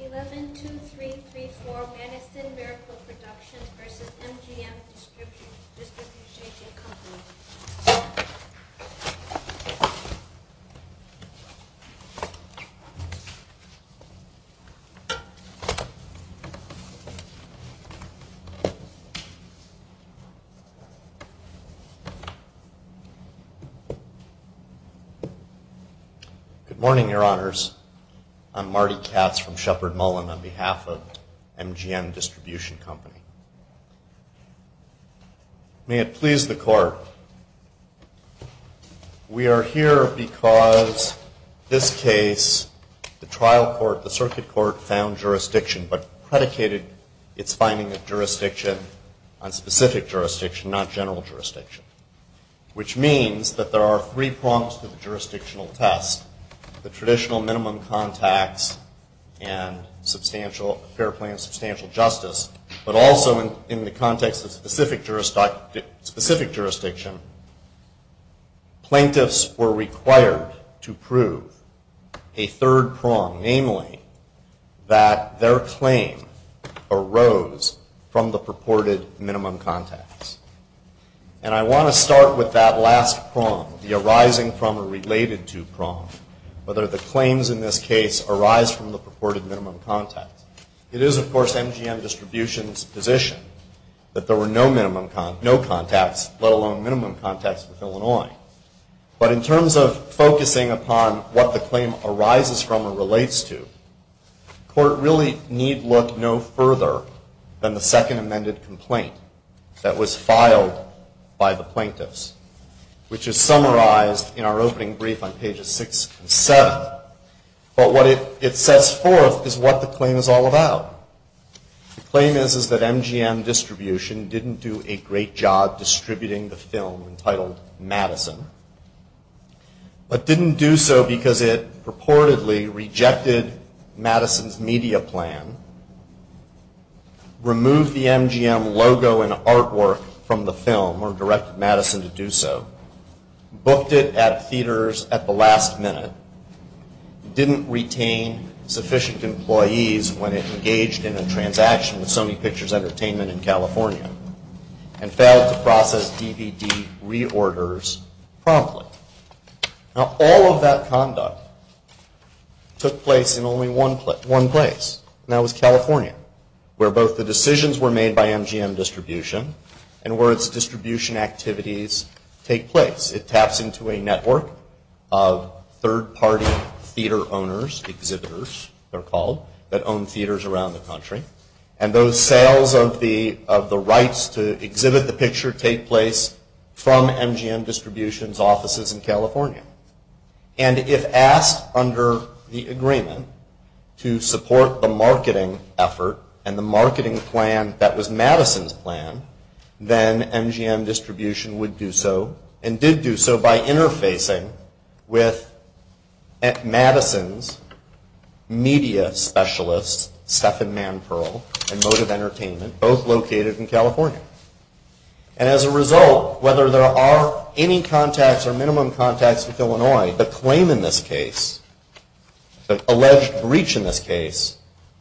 11-2334 Madison Miracle Productions v. MGM Distribution Company Good morning, your honors. I'm Marty Katz from Shepard Mullen on behalf of MGM Distribution Company. May it please the court, we are here because this case, the trial court, the circuit court found jurisdiction but predicated its finding of jurisdiction on specific jurisdiction, not general jurisdiction, which means that there are three prongs to the jurisdictional test, the traditional minimum contacts and fair play and substantial justice, but also in the context of specific jurisdiction, plaintiffs were required to prove a third prong, namely that their claim arose from the purported minimum contacts. And I want to start with that last prong, the arising from or related to prong, whether the claims in this case arise from the purported minimum contacts. It is, of course, MGM Distribution's position that there were no minimum contacts, let alone minimum contacts with Illinois. But in terms of focusing upon what the claim arises from or relates to, the court really need look no further than the second amended complaint that was filed by the plaintiffs, which is summarized in our opening brief on pages 6 and 7. But what it sets forth is what the claim is all about. The claim is that MGM Distribution didn't do a great job distributing the film entitled Madison, but didn't do so because it purportedly rejected Madison's media plan, removed the MGM logo and artwork from the film or directed Madison to do so, booked it at theaters at the last minute, didn't retain sufficient employees when it engaged in a transaction with Sony Pictures Entertainment in California, and failed to take place. And that was California, where both the decisions were made by MGM Distribution and where its distribution activities take place. It taps into a network of third party theater owners, exhibitors they're called, that own theaters around the country. And those sales of the rights to exhibit the picture take place from MGM Distribution's offices in California. And if asked under the agreement to support the marketing effort and the marketing plan that was Madison's plan, then MGM Distribution would do so, and did do so by interfacing with Madison's media specialists, Stephan Manperl and Motive Entertainment, both located in California. And as a result, whether there are any contacts or minimum contacts with Illinois, the claim in this case, the alleged breach in this case,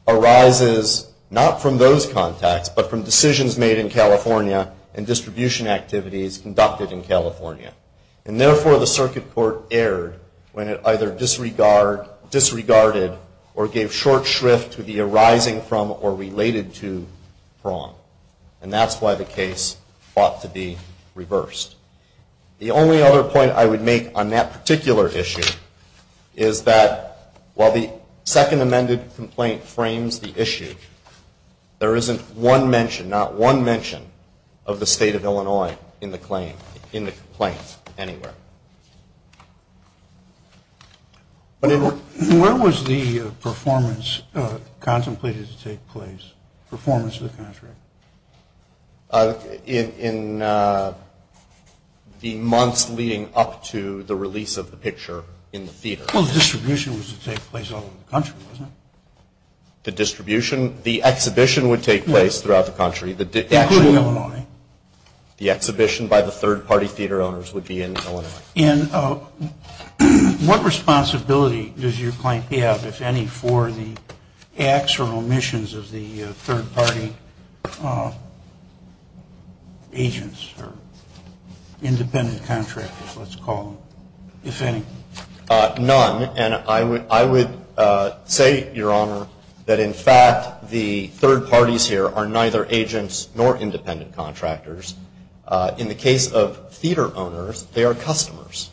arises not from those contacts, but from decisions made in California and distribution activities conducted in California. And therefore, the circuit court erred when it either disregarded or gave short shrift to the arising from or related to prong. And that's why the case ought to be reversed. The only other point I would make on that particular issue is that while the second amended complaint frames the issue, there isn't one mention, not one mention, of the state of Illinois in the claim, in the complaint anywhere. Where was the performance contemplated to take place, performance of the contract? In the months leading up to the release of the picture in the theater. Well, the distribution was to take place all over the country, wasn't it? The distribution? The exhibition would take place throughout the country. Including Illinois. The exhibition by the third party theater owners would be in Illinois. And what responsibility does your claim have, if any, for the acts or omissions of the third party agents or independent contractors, let's call them, if any? None. And I would say, Your Honor, that in fact the third parties here are neither agents nor independent contractors. In the case of theater owners, they are customers.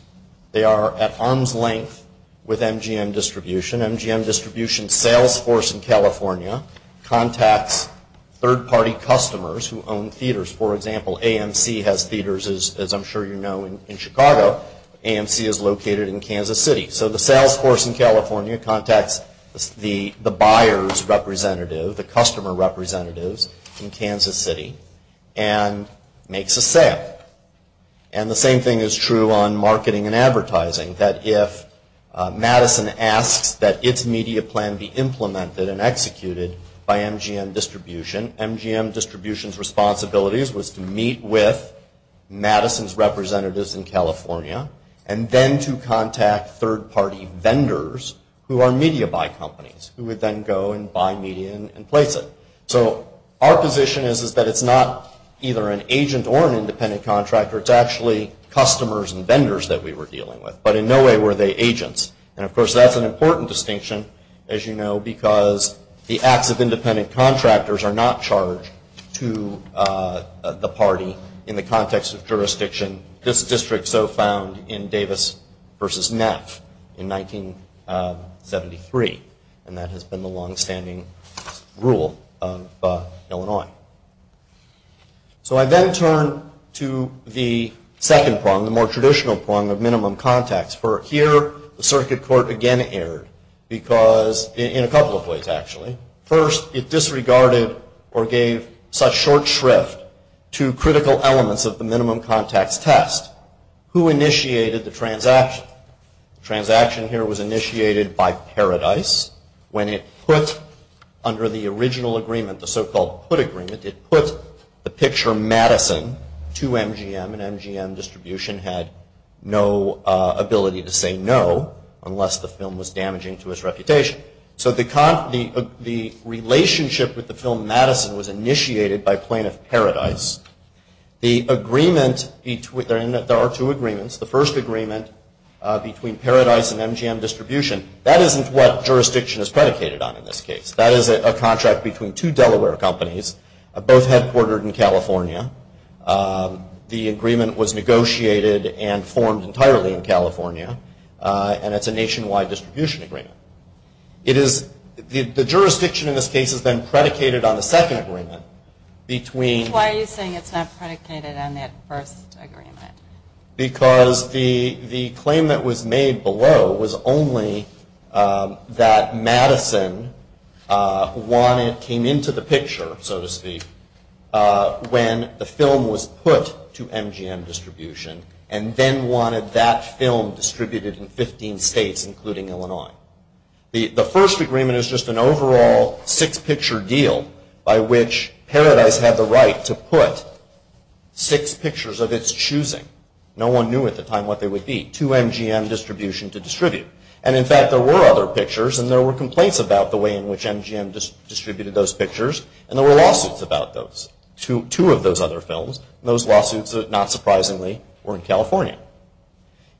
They are at arm's length with MGM Distribution. MGM Distribution's sales force in California contacts third party customers who own theaters. For example, AMC has theaters, as I'm sure you know, in Chicago. AMC is located in Kansas City. So the sales force in California contacts the buyer's representative, the customer representative's, in Kansas City and makes a sale. And the same thing is true on marketing and advertising, that if Madison asks that its media plan be implemented and executed by MGM Distribution, MGM Distribution's responsibilities was to meet with Madison's representatives in California and then to contact third party vendors who are media buy companies, who would then go and buy media and place it. So our position is that it's not either an agent or an independent contractor. It's actually customers and vendors that we were dealing with. But in no way were they agents. And of course, that's an important distinction, as you know, because the acts of independent contractors are not charged to the party in the context of jurisdiction. This district so found in Davis versus Neff in 1973, and that has been the longstanding rule of Illinois. So I then turn to the second prong, the more traditional prong of minimum contacts. For here, the circuit court again erred, because in a couple of ways, actually. First, it disregarded or gave such short shrift to critical elements of the minimum contacts test. Who initiated the transaction? Transaction here was initiated by Paradise. When it put under the original agreement, the so-called put agreement, it put the picture Madison to MGM, and MGM Distribution had no ability to say no unless the film was damaging to its reputation. So the relationship with the film Madison was initiated by plaintiff Paradise. The agreement, there are two agreements. The first agreement between Paradise and MGM Distribution, that isn't what jurisdiction is predicated on in this case. That is a contract between two Delaware companies, both headquartered in California. The agreement was negotiated and formed entirely in California, and it's a nationwide distribution agreement. It is, the jurisdiction in this case is then predicated on the second agreement between- Why are you saying it's not predicated on that first agreement? Because the claim that was made below was only that Madison wanted, came into the picture, so to speak, when the film was put to MGM Distribution, and then wanted that film distributed in 15 states, including Illinois. The first agreement is just an overall six-picture deal by which Paradise had the right to put six pictures of its choosing. No one knew at the time what they would be, two MGM Distribution to distribute. And in fact, there were other pictures, and there were complaints about the way in which MGM distributed those pictures, and there were lawsuits about those, two of those other films, and those lawsuits, not surprisingly, were in California.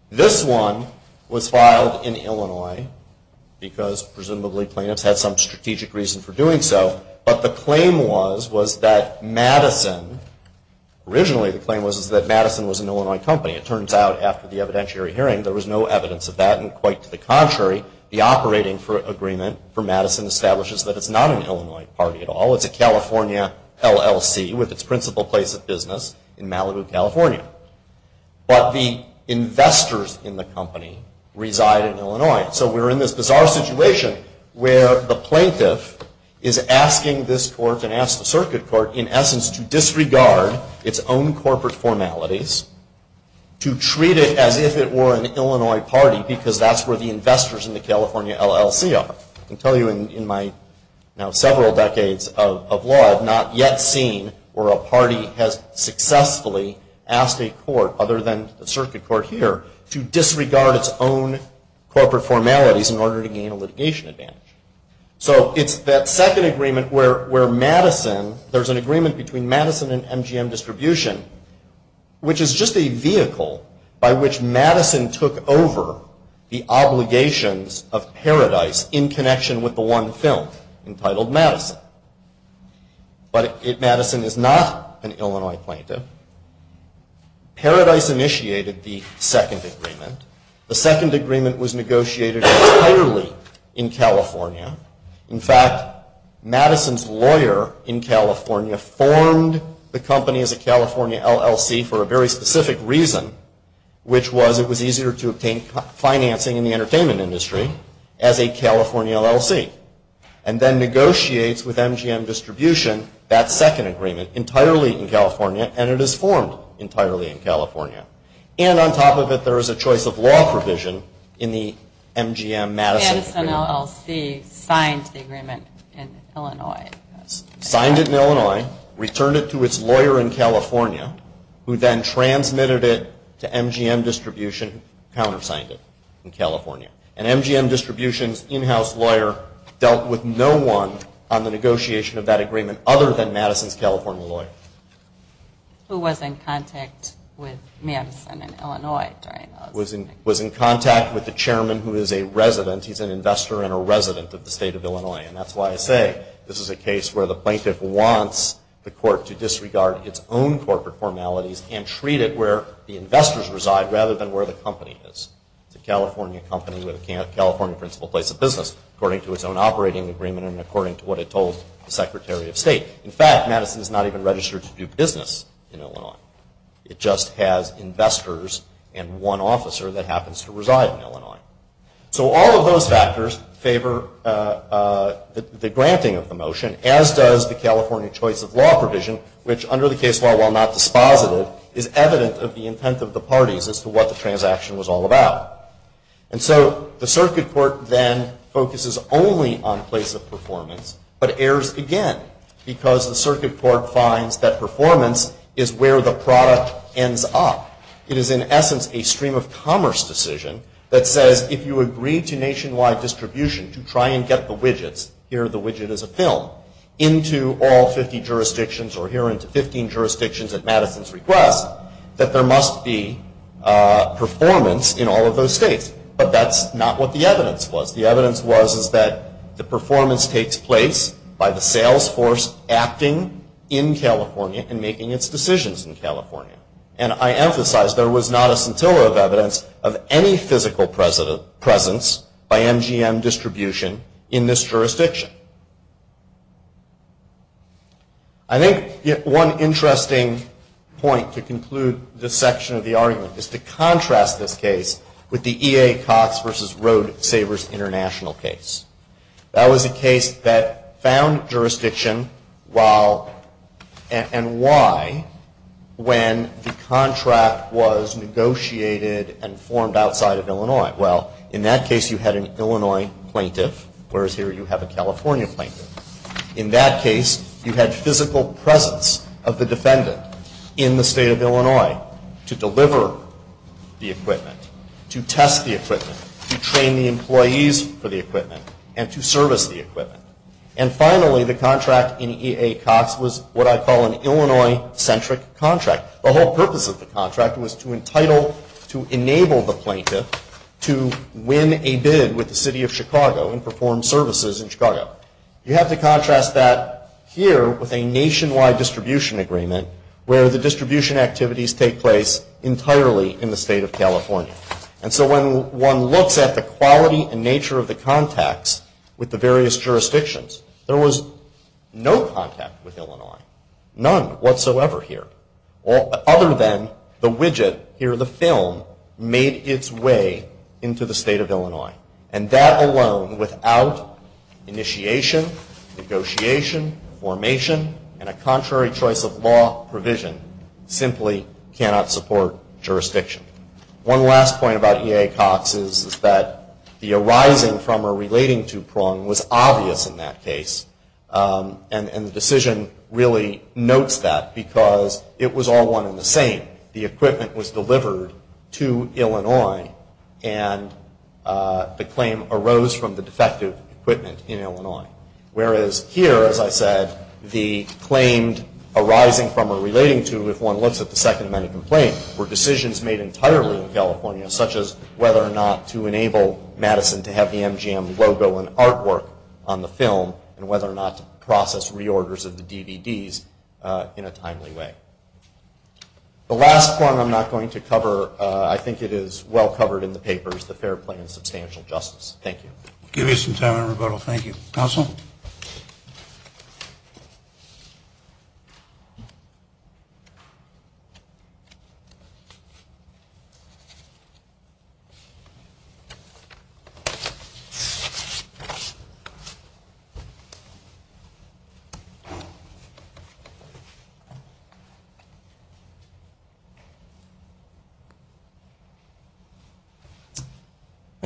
This one was filed in Illinois, because presumably plaintiffs had some strategic reason for doing so, but the claim was, was that Madison, originally the claim was that Madison was an Illinois company. It turns out after the evidentiary hearing, there was no evidence of that, and quite to the contrary, the operating agreement for Madison establishes that it's not an Illinois party at all. It's a California LLC with its principal place of business in Malibu, California. But the investors in the company reside in Illinois. So we're in this bizarre situation where the plaintiff is asking this court and asks the circuit court, in essence, to disregard its own corporate formalities, to treat it as if it were an Illinois party, because that's where the investors in the California LLC are. I can tell you in my now several decades of law, I've not yet seen where a party has successfully asked a court, other than the circuit court here, to disregard its own corporate formalities in order to gain a litigation advantage. So it's that second agreement where Madison, there's an agreement between Madison and MGM Distribution, which is just a vehicle by which Madison took over the obligations of Paradise in connection with the one film entitled Madison. But Madison is not an Illinois plaintiff. Paradise initiated the second agreement. The second agreement was negotiated entirely in California. In fact, Madison's lawyer in California formed the company as a California LLC for a very specific reason, which was it was easier to obtain financing in the entertainment industry as a California LLC, and then negotiates with MGM Distribution that second agreement entirely in California, and it is formed entirely in California. And on top of it, there is a choice of law provision in the MGM Madison. Madison LLC signed the agreement in Illinois. Signed it in Illinois, returned it to its lawyer in California, who then transmitted it to MGM Distribution, countersigned it in California. And MGM Distribution's in-house lawyer dealt with no one on the negotiation of that agreement other than Madison's California lawyer. Who was in contact with Madison in Illinois. Was in contact with the chairman who is a resident. He's an investor and a resident of the state of Illinois. And that's why I say this is a case where the plaintiff wants the court to disregard its own corporate formalities and treat it where the investors reside rather than where the company is. It's a California company with a California principal place of business according to its own operating agreement and according to what it told the Secretary of State. In fact, Madison is not even registered to do business in Illinois. It just has investors and one officer that happens to reside in Illinois. So all of those factors favor the granting of the motion as does the California choice of law provision, which under the case law, while not dispositive, is evident of the intent of the parties as to what the transaction was all about. And so the circuit court then focuses only on place of performance but errs again because the circuit court finds that performance is where the product ends up. It is in essence a stream of commerce decision that says if you agree to nationwide distribution to try and get the widgets, here the widget is a film, into all 50 jurisdictions or here into 15 jurisdictions at Madison's request, that there must be performance in all of those states. But that's not what the evidence was. The evidence was is that the performance takes place by the sales force acting in California and making its decisions in California. And I emphasize there was not a scintilla of evidence of any physical presence by MGM distribution in this jurisdiction. I think one interesting point to conclude this section of the argument is to contrast this case with the EA Cox v. Road Savers International case. That was a contract was negotiated and formed outside of Illinois. Well, in that case you had an Illinois plaintiff, whereas here you have a California plaintiff. In that case you had physical presence of the defendant in the state of Illinois to deliver the equipment, to test the equipment, to train the employees for the equipment, and to service the equipment. And finally the contract in EA Cox was what I call an Illinois-centric contract. The whole purpose of the contract was to enable the plaintiff to win a bid with the city of Chicago and perform services in Chicago. You have to contrast that here with a nationwide distribution agreement where the distribution activities take place entirely in the state of California. And so when one looks at the quality and nature of the contacts with the various jurisdictions, there was no contact with Illinois, none whatsoever here, other than the widget here in the film made its way into the state of Illinois. And that alone without initiation, negotiation, formation, and a contrary choice of law provision simply cannot support jurisdiction. One last point about EA Cox is that the arising from or relating to Prung was obvious in that case. And the decision really notes that because it was all one and the same. The equipment was delivered to Illinois and the claim arose from the defective equipment in Illinois. Whereas here, as I said, the claimed arising from or relating to, if one looks at the Second Amendment complaint, were decisions made entirely in California, such as whether or not to enable Madison to have the MGM logo and artwork on the film and whether or not to process reorders of the DVDs in a timely way. The last point I'm not going to cover, I think it is well covered in the papers, the fair play and substantial justice. Thank you. My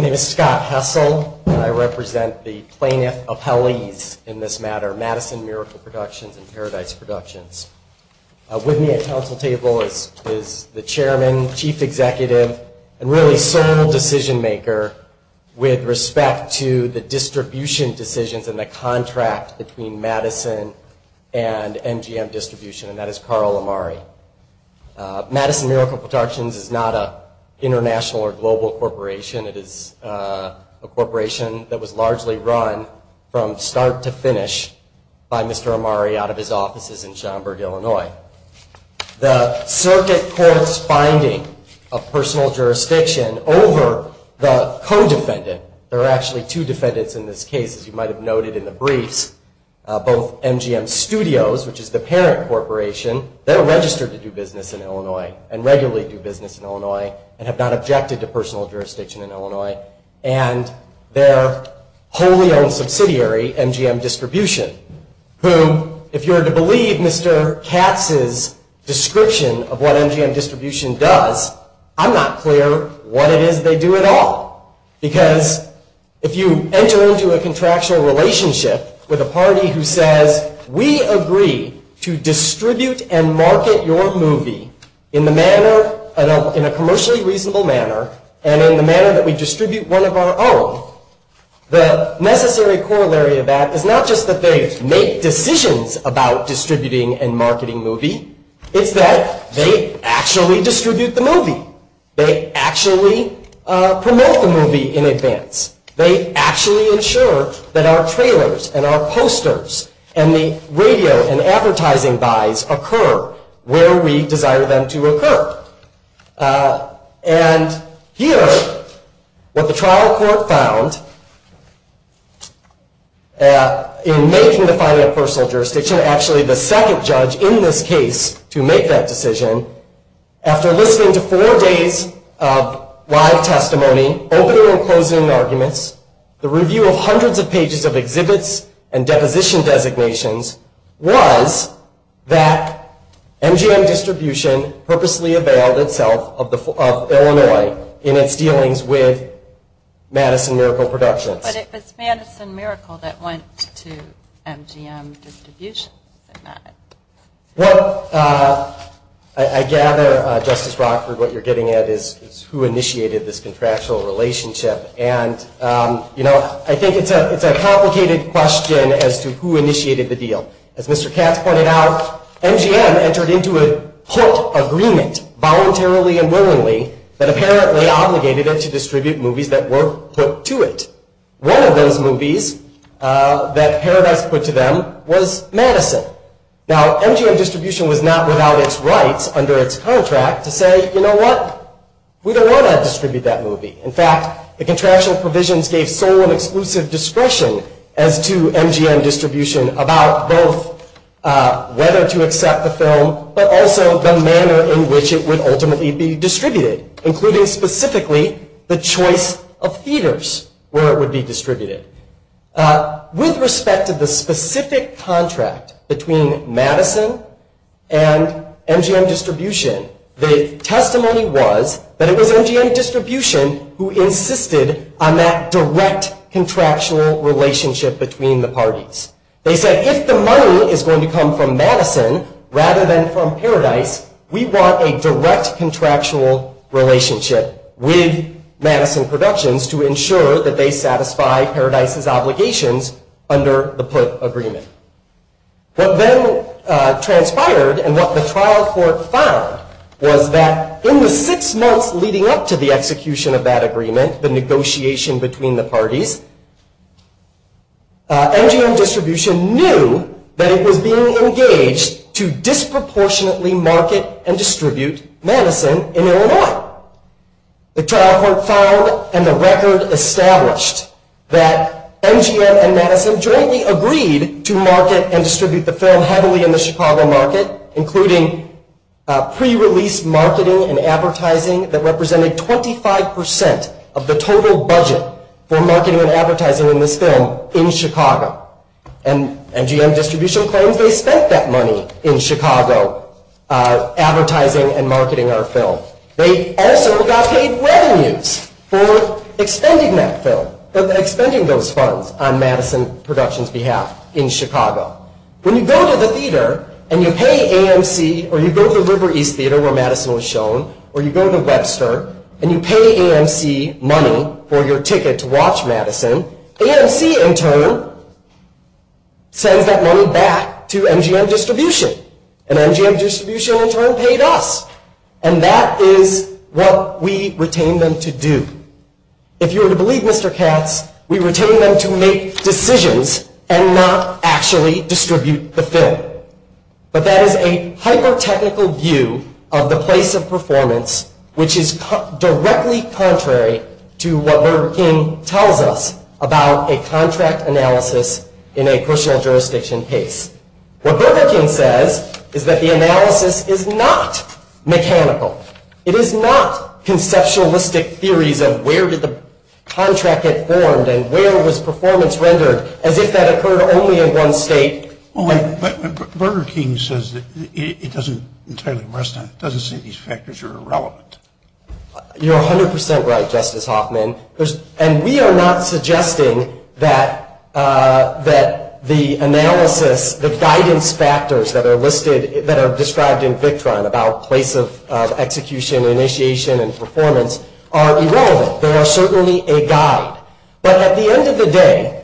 name is Scott Hessel and I represent the plaintiff appellees in this matter, Madison Miracle Productions and Paradise Productions. With me at council table is the chairman, chief executive and really sole decision maker with respect to the distribution decisions and the contract between Madison and MGM distribution and that is Carl Amari. Madison Miracle Productions is not an international or global corporation. It is a corporation that was largely run from start to finish by Mr. Amari out of his offices in Schaumburg, Illinois. The circuit court's finding of personal jurisdiction over the co-defendant, there are actually two defendants in this case as you might have noted in the briefs, both MGM Studios, which is the parent corporation, they're registered to do business in Illinois and regularly do business in Illinois and have not objected to personal jurisdiction in Illinois and their wholly owned subsidiary MGM Distribution, whom if you were to believe Mr. Katz's description of what MGM Distribution does, I'm not clear what it is they do at all. Because if you enter into a contractual relationship with a party who says, we agree to distribute and market your movie in a commercially reasonable manner and in the manner that we distribute one of our own, the necessary corollary of that is not just that they make decisions about distributing and marketing movie, it's that they actually distribute the movie. They actually promote the movie in advance. They actually ensure that our trailers and our posters and the radio and advertising buys occur where we desire them to occur. And here, what the trial court found in making the finding of personal jurisdiction, actually the second judge in this case to make that decision, after listening to four days of live testimony, opening and closing arguments, the review of hundreds of pages of exhibits and deposition designations was that MGM Distribution purposely availed itself of Illinois in its dealings with Madison Miracle Productions. But it was Madison Miracle that went to MGM Distribution, is it not? Well, I gather, Justice Rockford, what you're getting at is who initiated this contractual relationship. And, you know, I think it's a complicated question as to who initiated the deal. As Mr. Katz pointed out, MGM entered into a put agreement voluntarily and willingly that apparently obligated it to distribute movies that were put to it. One of those movies that Paradise put to them was Madison. Now, MGM Distribution was not without its rights under its contract to say, you know what, we don't want to distribute that movie. In fact, the contractual provisions gave sole and exclusive discretion as to MGM Distribution about both whether to accept the film, but also the manner in which it would ultimately be distributed, including specifically the choice of theaters where it would be distributed. With respect to the specific contract between Madison and MGM Distribution, the testimony was that it was MGM Distribution who insisted on that direct contractual relationship between the parties. They said, if the money is going to come from Madison rather than from Paradise, we want a direct contractual relationship with Madison Productions to ensure that they satisfy Paradise's obligations under the put agreement. What then transpired and what the trial court found was that in the six months leading up to the execution of that agreement, the negotiation between the parties, MGM Distribution knew that it was being engaged to disproportionately market and distribute Madison in Illinois. The trial court found and the record established that MGM and Madison jointly agreed to market and distribute the film heavily in the Chicago market, including pre-release marketing and advertising that represented 25% of the total budget for marketing and advertising in this film in Chicago. And MGM Distribution claims they spent that money in Chicago advertising and marketing our film. They also got paid revenues for expending that film, for expending those funds on Madison Productions' behalf in Chicago. When you go to the theater and you pay AMC, or you go to the River East Theater where Madison was shown, or you go to Webster and you pay AMC money for your ticket to watch Madison, AMC in turn sends that money back to MGM Distribution. And MGM Distribution in turn paid us. And that is what we retain them to do. If you were to believe Mr. Katz, we retain them to make decisions and not actually distribute the film. But that is a hyper-technical view of the place of performance, which is directly contrary to what Burger King tells us about a contract analysis in a crucial jurisdiction case. What Burger King says is that the analysis is not mechanical. It is not conceptualistic theories of where did the contract get formed and where was performance rendered as if that occurred only in one state. But Burger King says it doesn't entirely rest on it. It doesn't say these factors are irrelevant. You're 100 percent right, Justice Hoffman. And we are not suggesting that the analysis, the guidance factors that are listed, that are described in Victron about place of execution, initiation, and performance are irrelevant. They are certainly a guide. But at the end of the day,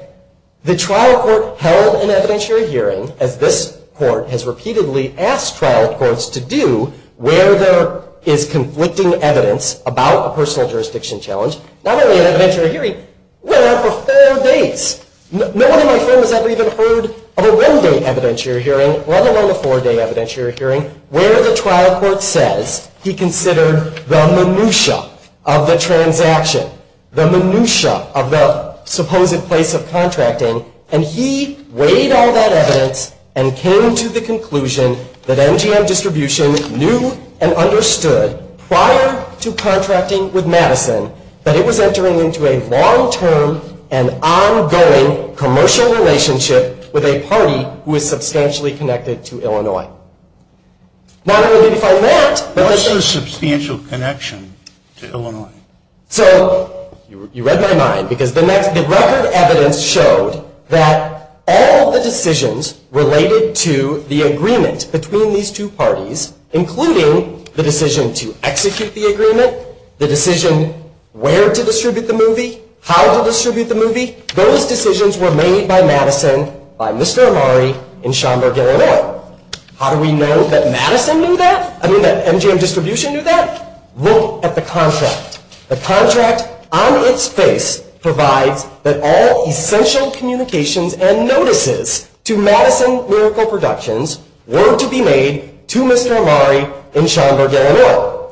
the trial court held an evidentiary hearing, as this court has repeatedly asked trial courts to do, where there is conflicting evidence about a personal jurisdiction challenge. Not only an evidentiary hearing, went on for four days. No one in my firm has ever even heard of a one-day evidentiary hearing, let alone a four-day evidentiary hearing, where the trial court says he considered the minutiae of the transaction, the minutiae of the supposed in place of contracting, and he weighed all that evidence and came to the conclusion that MGM Distribution knew and understood, prior to contracting with Madison, that it was entering into a long-term and ongoing commercial relationship with a party who is substantially connected to Illinois. Not only did he find that, but there's a substantial connection to Illinois. So, you read my mind, because the next, the record evidence showed that all of the decisions related to the agreement between these two parties, including the decision to execute the agreement, the decision where to distribute the movie, how to distribute the movie, those decisions were made by Madison, by Mr. Amari, and Sean Berger and I. How do we know that Madison knew that? I mean, that MGM Distribution knew that? Look at the contract. The contract, on its face, provides that all essential communications and notices to Madison Miracle Productions were to be made to Mr. Amari and Sean Berger and I.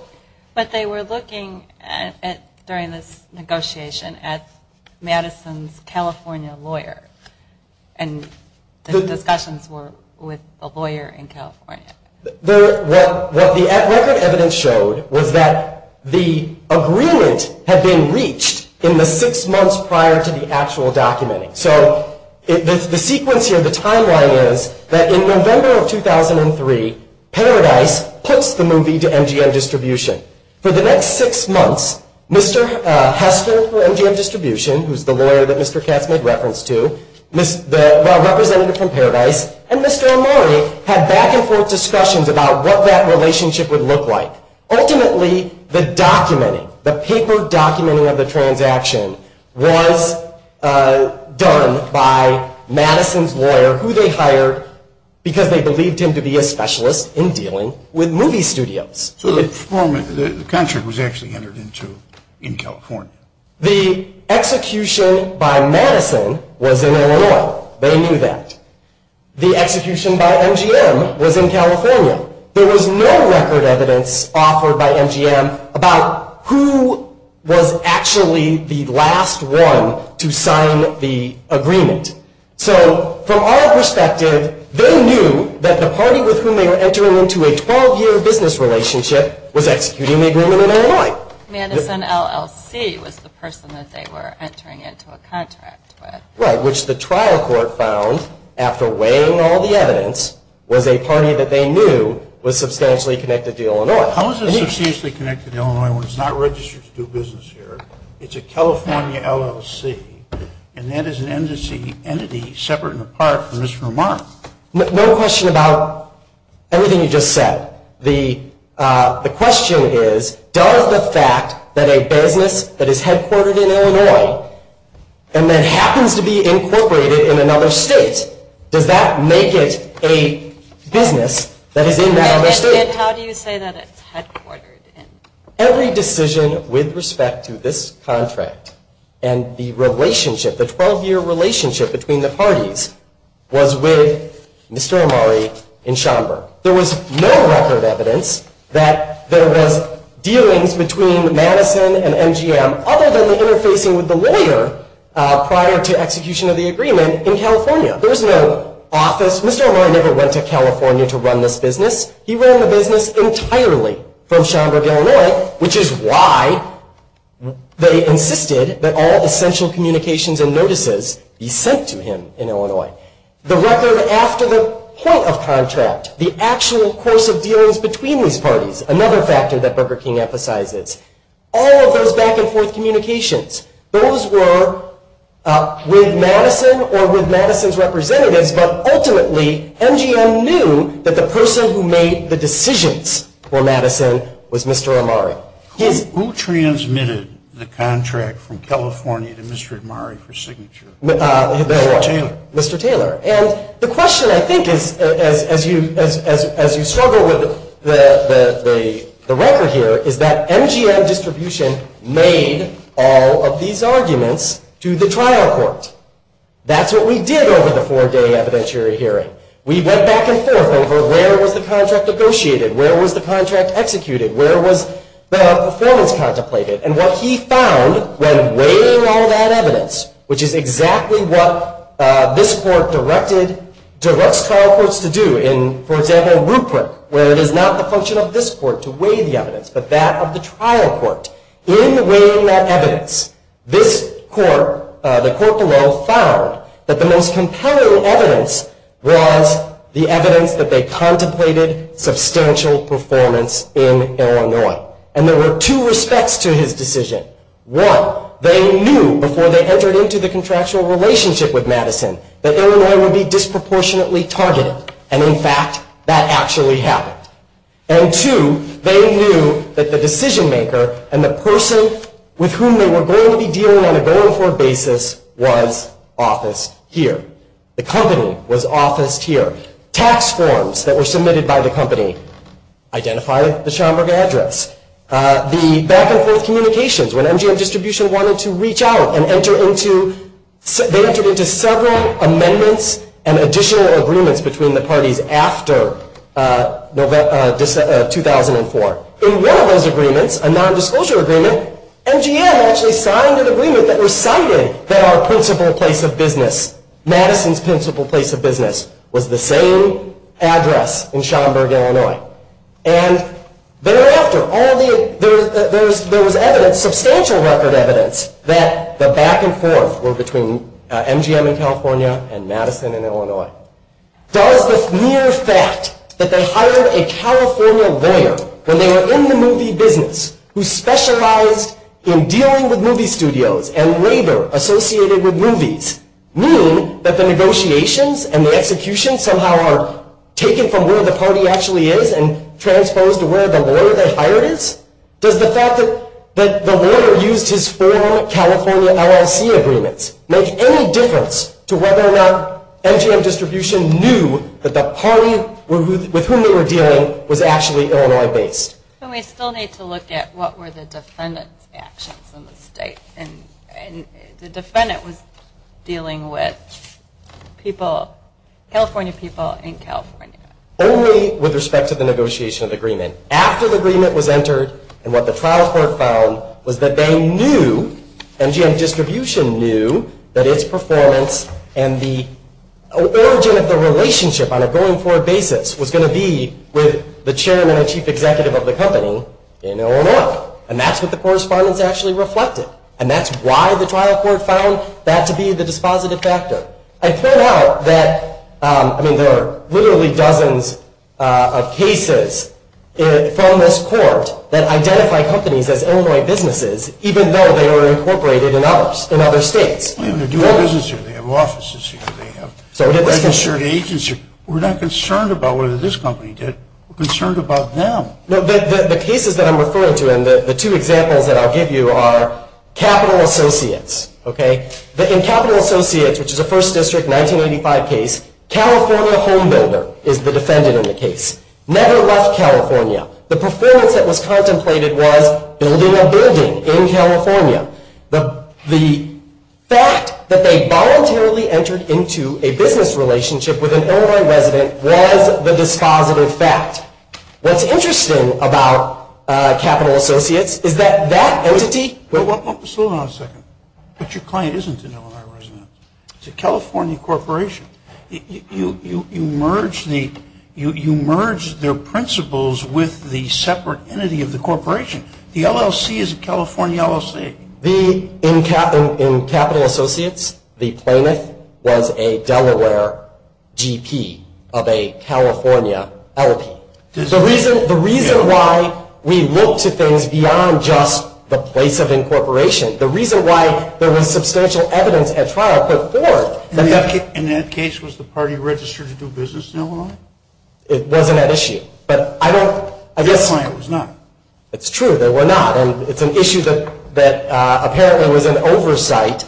But they were looking at, during this negotiation, at Madison's California lawyer, and the discussions were with a lawyer in California. What the record evidence showed was that the agreement had been reached in the six months prior to the actual documenting. So, the sequence here, the timeline is that in November of 2003, Paradise puts the movie to MGM Distribution. For the next six months, Mr. Hester for MGM Distribution, and Mr. Amari had back and forth discussions about what that relationship would look like. Ultimately, the documenting, the paper documenting of the transaction was done by Madison's lawyer, who they hired because they believed him to be a specialist in dealing with movie studios. So, the concert was actually entered into in California? The execution by Madison was in Illinois. They knew that. The execution by MGM was in California. There was no record evidence offered by MGM about who was actually the last one to sign the agreement. So, from our perspective, they knew that the party with whom they were entering into a 12-year business relationship was executing the agreement in Illinois. Madison LLC was the person that they were entering into a contract with. Right, which the trial court found, after weighing all the evidence, was a party that they knew was substantially connected to Illinois. How is it substantially connected to Illinois when it's not registered to do business here? It's a California LLC, and that is an entity separate and apart from Mr. Amari. No question about everything you just said. The question is, does the fact that a business that is headquartered in Illinois and then happens to be incorporated in another state, does that make it a business that is in that other state? And how do you say that it's headquartered in? Every decision with respect to this contract and the relationship, the 12-year relationship between the parties, was with Mr. Amari in Schomburg. There was no record evidence that there was dealings between Madison and MGM other than the interfacing with the lawyer prior to execution of the agreement in California. There was no office. Mr. Amari never went to California to run this business. He ran the business entirely from Schomburg, Illinois, which is why they insisted that all essential communications and notices be sent to him in Illinois. The record after the point of contract, the actual course of dealings between these parties, another factor that Burger King emphasizes, all of those back and forth communications, those were with Madison or with Madison's representatives, but ultimately MGM knew that the person who made the decisions for Madison was Mr. Amari. Who transmitted the contract from California to Mr. Amari for signature? Mr. Taylor. Mr. Taylor. And the question, I think, as you struggle with the record here, is that MGM distribution made all of these arguments to the trial court. That's what we did over the four-day evidentiary hearing. We went back and forth over where was the contract negotiated, where was the contract executed, where was the performance contemplated. And what he found when weighing all of that evidence, which is exactly what this court directs trial courts to do in, for example, Rupert, where it is not the function of this court to weigh the evidence, but that of the trial court. In weighing that evidence, this court, the court below, found that the most compelling evidence was the evidence that they contemplated substantial performance in Illinois. And there were two respects to his decision. One, they knew before they entered into the contractual relationship with Madison that Illinois would be disproportionately targeted. And in fact, that actually happened. And two, they knew that the decision maker and the person with whom they were going to be dealing on a go-and-for basis was office here. The company was officed here. Tax forms that were submitted by the company identified the Schomburg address. The back-and-forth communications, when MGM Distribution wanted to reach out and enter into several amendments and additional agreements between the parties after 2004. In one of those agreements, a nondisclosure agreement, MGM actually signed an agreement that recited that our principal place of business, Madison's principal place of business, was the same address in Schomburg, Illinois. And thereafter, there was evidence, substantial record evidence, that the back-and-forth were between MGM in California and Madison in Illinois. Does the mere fact that they hired a California lawyer when they were in the movie business who specialized in dealing with movie studios and labor associated with movies mean that the negotiations and the execution somehow are taken from where the party actually is and transposed to where the lawyer they hired is? Does the fact that the lawyer used his former California LLC agreements make any difference to whether or not MGM Distribution knew that the party with whom they were dealing was actually Illinois-based? And we still need to look at what were the defendant's actions in the state. And the defendant was dealing with people, California people in California. Only with respect to the negotiation of the agreement. After the agreement was entered and what the trial court found was that they knew, MGM Distribution knew, that its performance and the origin of the relationship on a going-forward basis was going to be with the chairman and chief executive of the company in Illinois. And that's what the correspondence actually reflected. And that's why the trial court found that to be the dispositive factor. I point out that there are literally dozens of cases from this court that identify companies as Illinois businesses, even though they were incorporated in other states. They have a dual business here, they have offices here, they have a registered agency. We're not concerned about what this company did, we're concerned about them. The cases that I'm referring to and the two examples that I'll give you are Capital Associates. In Capital Associates, which is a First District 1985 case, California Home Builder is the defendant in the case. Never left California. The performance that was contemplated was building a building in California. The fact that they voluntarily entered into a business relationship with an Illinois resident was the dispositive fact. What's interesting about Capital Associates is that that entity... Well, hold on a second. But your client isn't an Illinois resident. It's a California corporation. You merge their principles with the separate entity of the corporation. The LLC is a California LLC. In Capital Associates, the plaintiff was a Delaware GP of a California LP. The reason why we look to things beyond just the place of incorporation, the reason why there was substantial evidence at trial put forth... In that case, was the party registered to do business in Illinois? It wasn't at issue. But I don't... I guess... It was not. It's true. They were not. And it's an issue that apparently was an oversight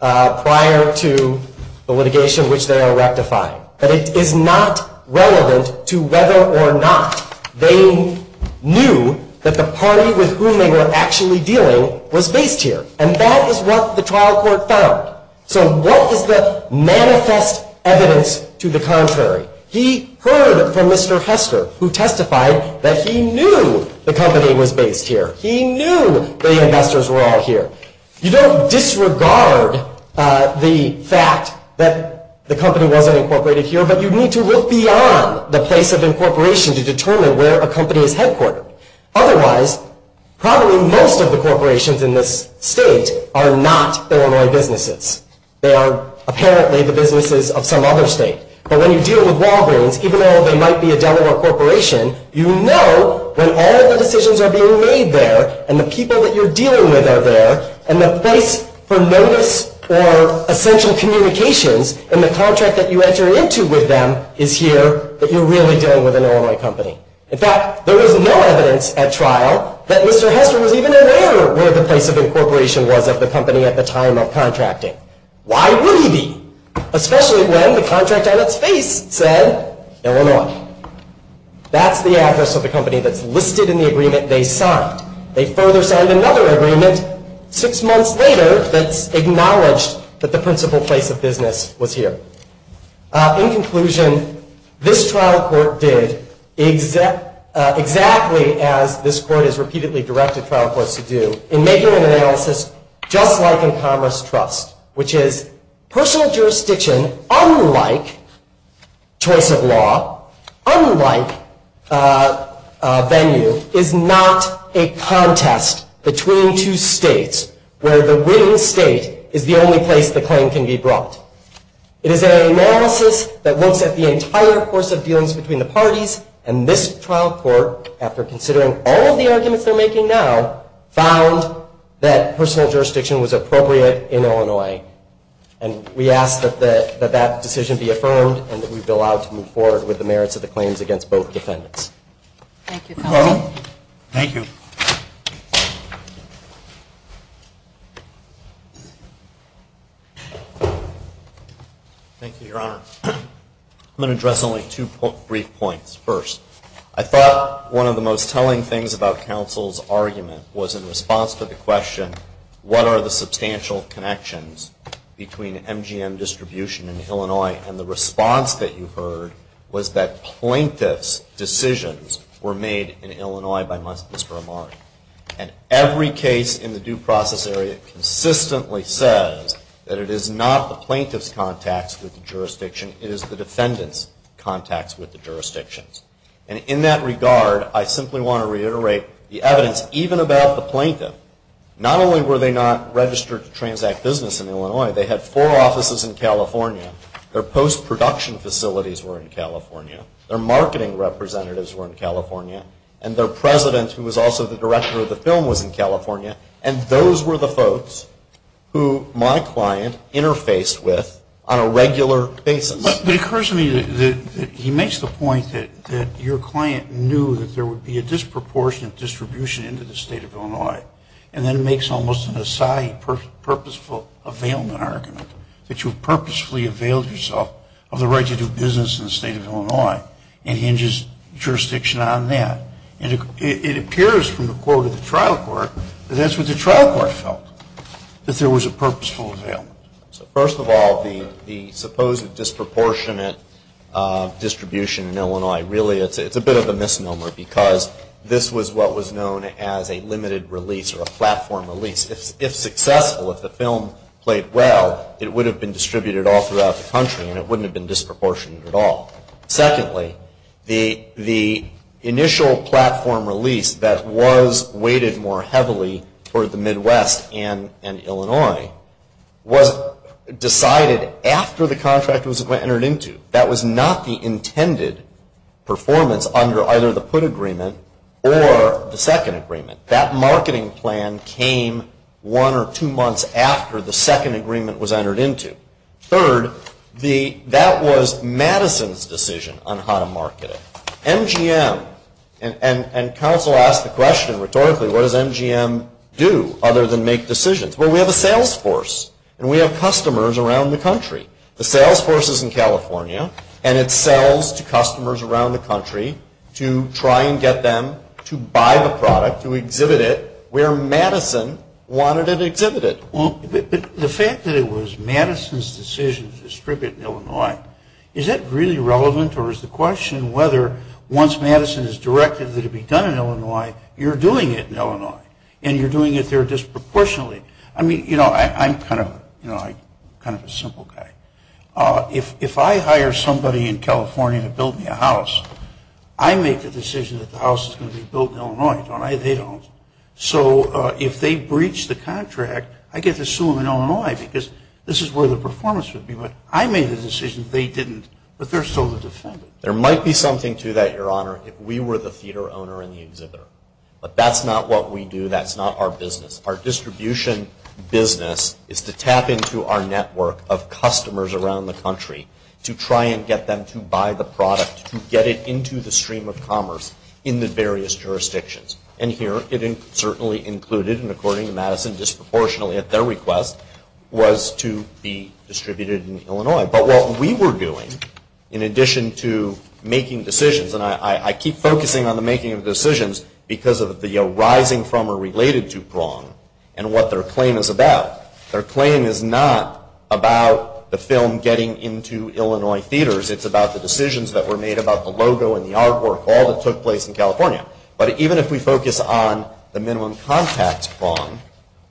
prior to the litigation, which they are rectifying. But it is not relevant to whether or not they knew that the party with whom they were actually dealing was based here. And that is what the trial court found. So what is the manifest evidence to the contrary? He heard from Mr. Hester, who testified that he knew the company was based here. He knew the investors were all here. You don't disregard the fact that the company wasn't incorporated here, but you need to look beyond the place of incorporation to determine where a company is headquartered. Otherwise, probably most of the corporations in this state are not Illinois businesses. They are apparently the businesses of some other state. But when you deal with Walgreens, even though they might be a Delaware corporation, you know when all of the decisions are being made there, and the people that you're dealing with are there, and the place for notice or essential communications, and the contract that you enter into with them is here, that you're really dealing with an Illinois company. In fact, there was no evidence at trial that Mr. Hester was even aware where the place of incorporation was of the company at the time of contracting. Why would he be? Especially when the contract on its face said Illinois. That's the address of the company that's listed in the agreement they signed. They further signed another agreement six months later that's acknowledged that the principal place of business was here. In conclusion, this trial court did exactly as this court has repeatedly directed trial jurisdiction, unlike choice of law, unlike venue, is not a contest between two states where the winning state is the only place the claim can be brought. It is an analysis that looks at the entire course of dealings between the parties. And this trial court, after considering all of the arguments they're making now, found that personal jurisdiction was appropriate in Illinois. And we ask that that decision be affirmed and that we be allowed to move forward with the merits of the claims against both defendants. Thank you, counsel. Thank you. Thank you, your honor. I'm going to address only two brief points. First, I thought one of the most telling things about counsel's argument was in response to the question, what are the substantial connections between MGM distribution in Illinois? And the response that you heard was that plaintiff's decisions were made in Illinois by Mr. Amar. And every case in the due process area consistently says that it is not the plaintiff's contacts with the jurisdiction, it is the defendant's contacts with the jurisdictions. And in that regard, I simply want to reiterate the evidence, even about the plaintiff, not only were they not registered to transact business in Illinois, they had four offices in California, their post-production facilities were in California, their marketing representatives were in California, and their president, who was also the director of the film, was in California, and those were the folks who my client interfaced with on a regular basis. But it occurs to me that he makes the point that your client knew that there would be a disproportionate distribution into the state of Illinois, and then makes almost an aside purposeful availment argument, that you purposefully availed yourself of the right to do business in the state of Illinois, and hinges jurisdiction on that, and it appears from the quote of the trial court that that's what the trial court felt, that there was a purposeful availment. So first of all, the supposed disproportionate distribution in Illinois, really it's a bit of a misnomer, because this was what was known as a limited release, or a platform release. If successful, if the film played well, it would have been distributed all throughout the country, and it wouldn't have been disproportionate at all. Secondly, the initial platform release that was weighted more heavily for the Midwest and Illinois was decided after the contract was entered into. That was not the intended performance under either the put agreement or the second agreement. That marketing plan came one or two months after the second agreement was entered into. Third, that was Madison's decision on how to market it. MGM, and counsel asked the question rhetorically, what does MGM do, other than make decisions? Well, we have a sales force, and we have customers around the country. The sales force is in California, and it sells to customers around the country to try and get them to buy the product, to exhibit it where Madison wanted it exhibited. The fact that it was Madison's decision to distribute in Illinois, is that really relevant, or is the question whether once Madison has directed that it be done in Illinois, you're doing it in Illinois, and you're doing it there disproportionately. I mean, you know, I'm kind of a simple guy. If I hire somebody in California to build me a house, I make the decision that the house is going to be built in Illinois, don't I? They don't. So if they breach the contract, I get to sue them in Illinois, because this is where the performance would be. But I made the decision they didn't, but they're still the defendants. There might be something to that, Your Honor, if we were the theater owner and the exhibitor. But that's not what we do. That's not our business. Our distribution business is to tap into our network of customers around the country to try and get them to buy the product, to get it into the stream of commerce in the various jurisdictions. And here, it certainly included, and according to Madison, disproportionately at their request, was to be distributed in Illinois. But what we were doing, in addition to making decisions, and I keep focusing on the making of decisions because of the arising from or related to Prong and what their claim is about. Their claim is not about the film getting into Illinois theaters. It's about the decisions that were made about the logo and the artwork, all that took place in California. But even if we focus on the minimum contact Prong,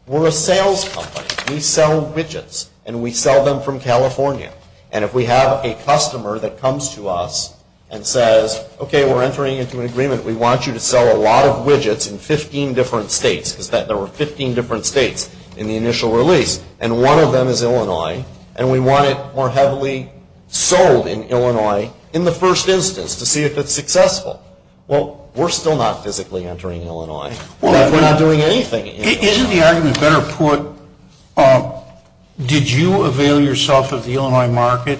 we're a sales company. We sell widgets and we sell them from California. And if we have a customer that comes to us and says, okay, we're entering into an agreement. We want you to sell a lot of widgets in 15 different states, because there were 15 different states in the initial release. And one of them is Illinois. And we want it more heavily sold in Illinois in the first instance to see if it's successful. Well, we're still not physically entering Illinois. We're not doing anything. Isn't the argument better put, did you avail yourself of the Illinois market,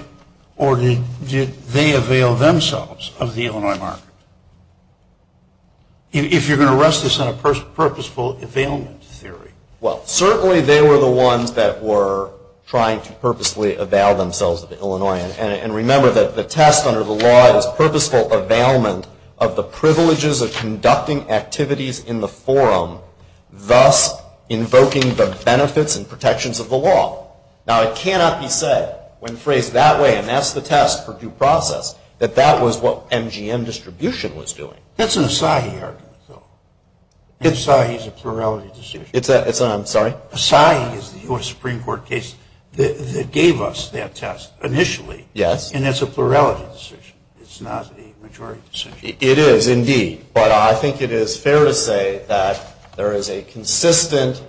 or did they avail themselves of the Illinois market? If you're going to rest this on a purposeful availment theory. Well, certainly they were the ones that were trying to purposely avail themselves of Illinois. And remember that the test under the law is purposeful availment of the privileges of conducting activities in the forum, thus invoking the benefits and protections of the law. Now, it cannot be said when phrased that way, and that's the test for due process, that that was what MGM distribution was doing. That's an Asahi argument. Asahi is a plurality distribution. It's a, I'm sorry? But Asahi is the U.S. Supreme Court case that gave us that test initially. Yes. And it's a plurality distribution. It's not a majority distribution. It is, indeed. But I think it is fair to say that there is a consistent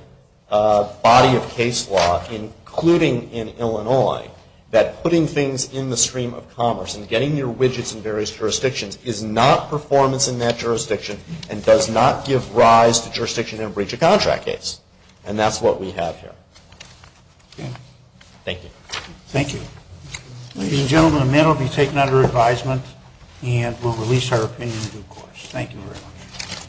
body of case law, including in Illinois, that putting things in the stream of commerce and getting your widgets in various jurisdictions is not performance in that jurisdiction and does not give rise to jurisdiction in a breach of contract case. And that's what we have here. Okay. Thank you. Thank you. Ladies and gentlemen, the meeting will be taken under advisement, and we'll release our opinion in due course.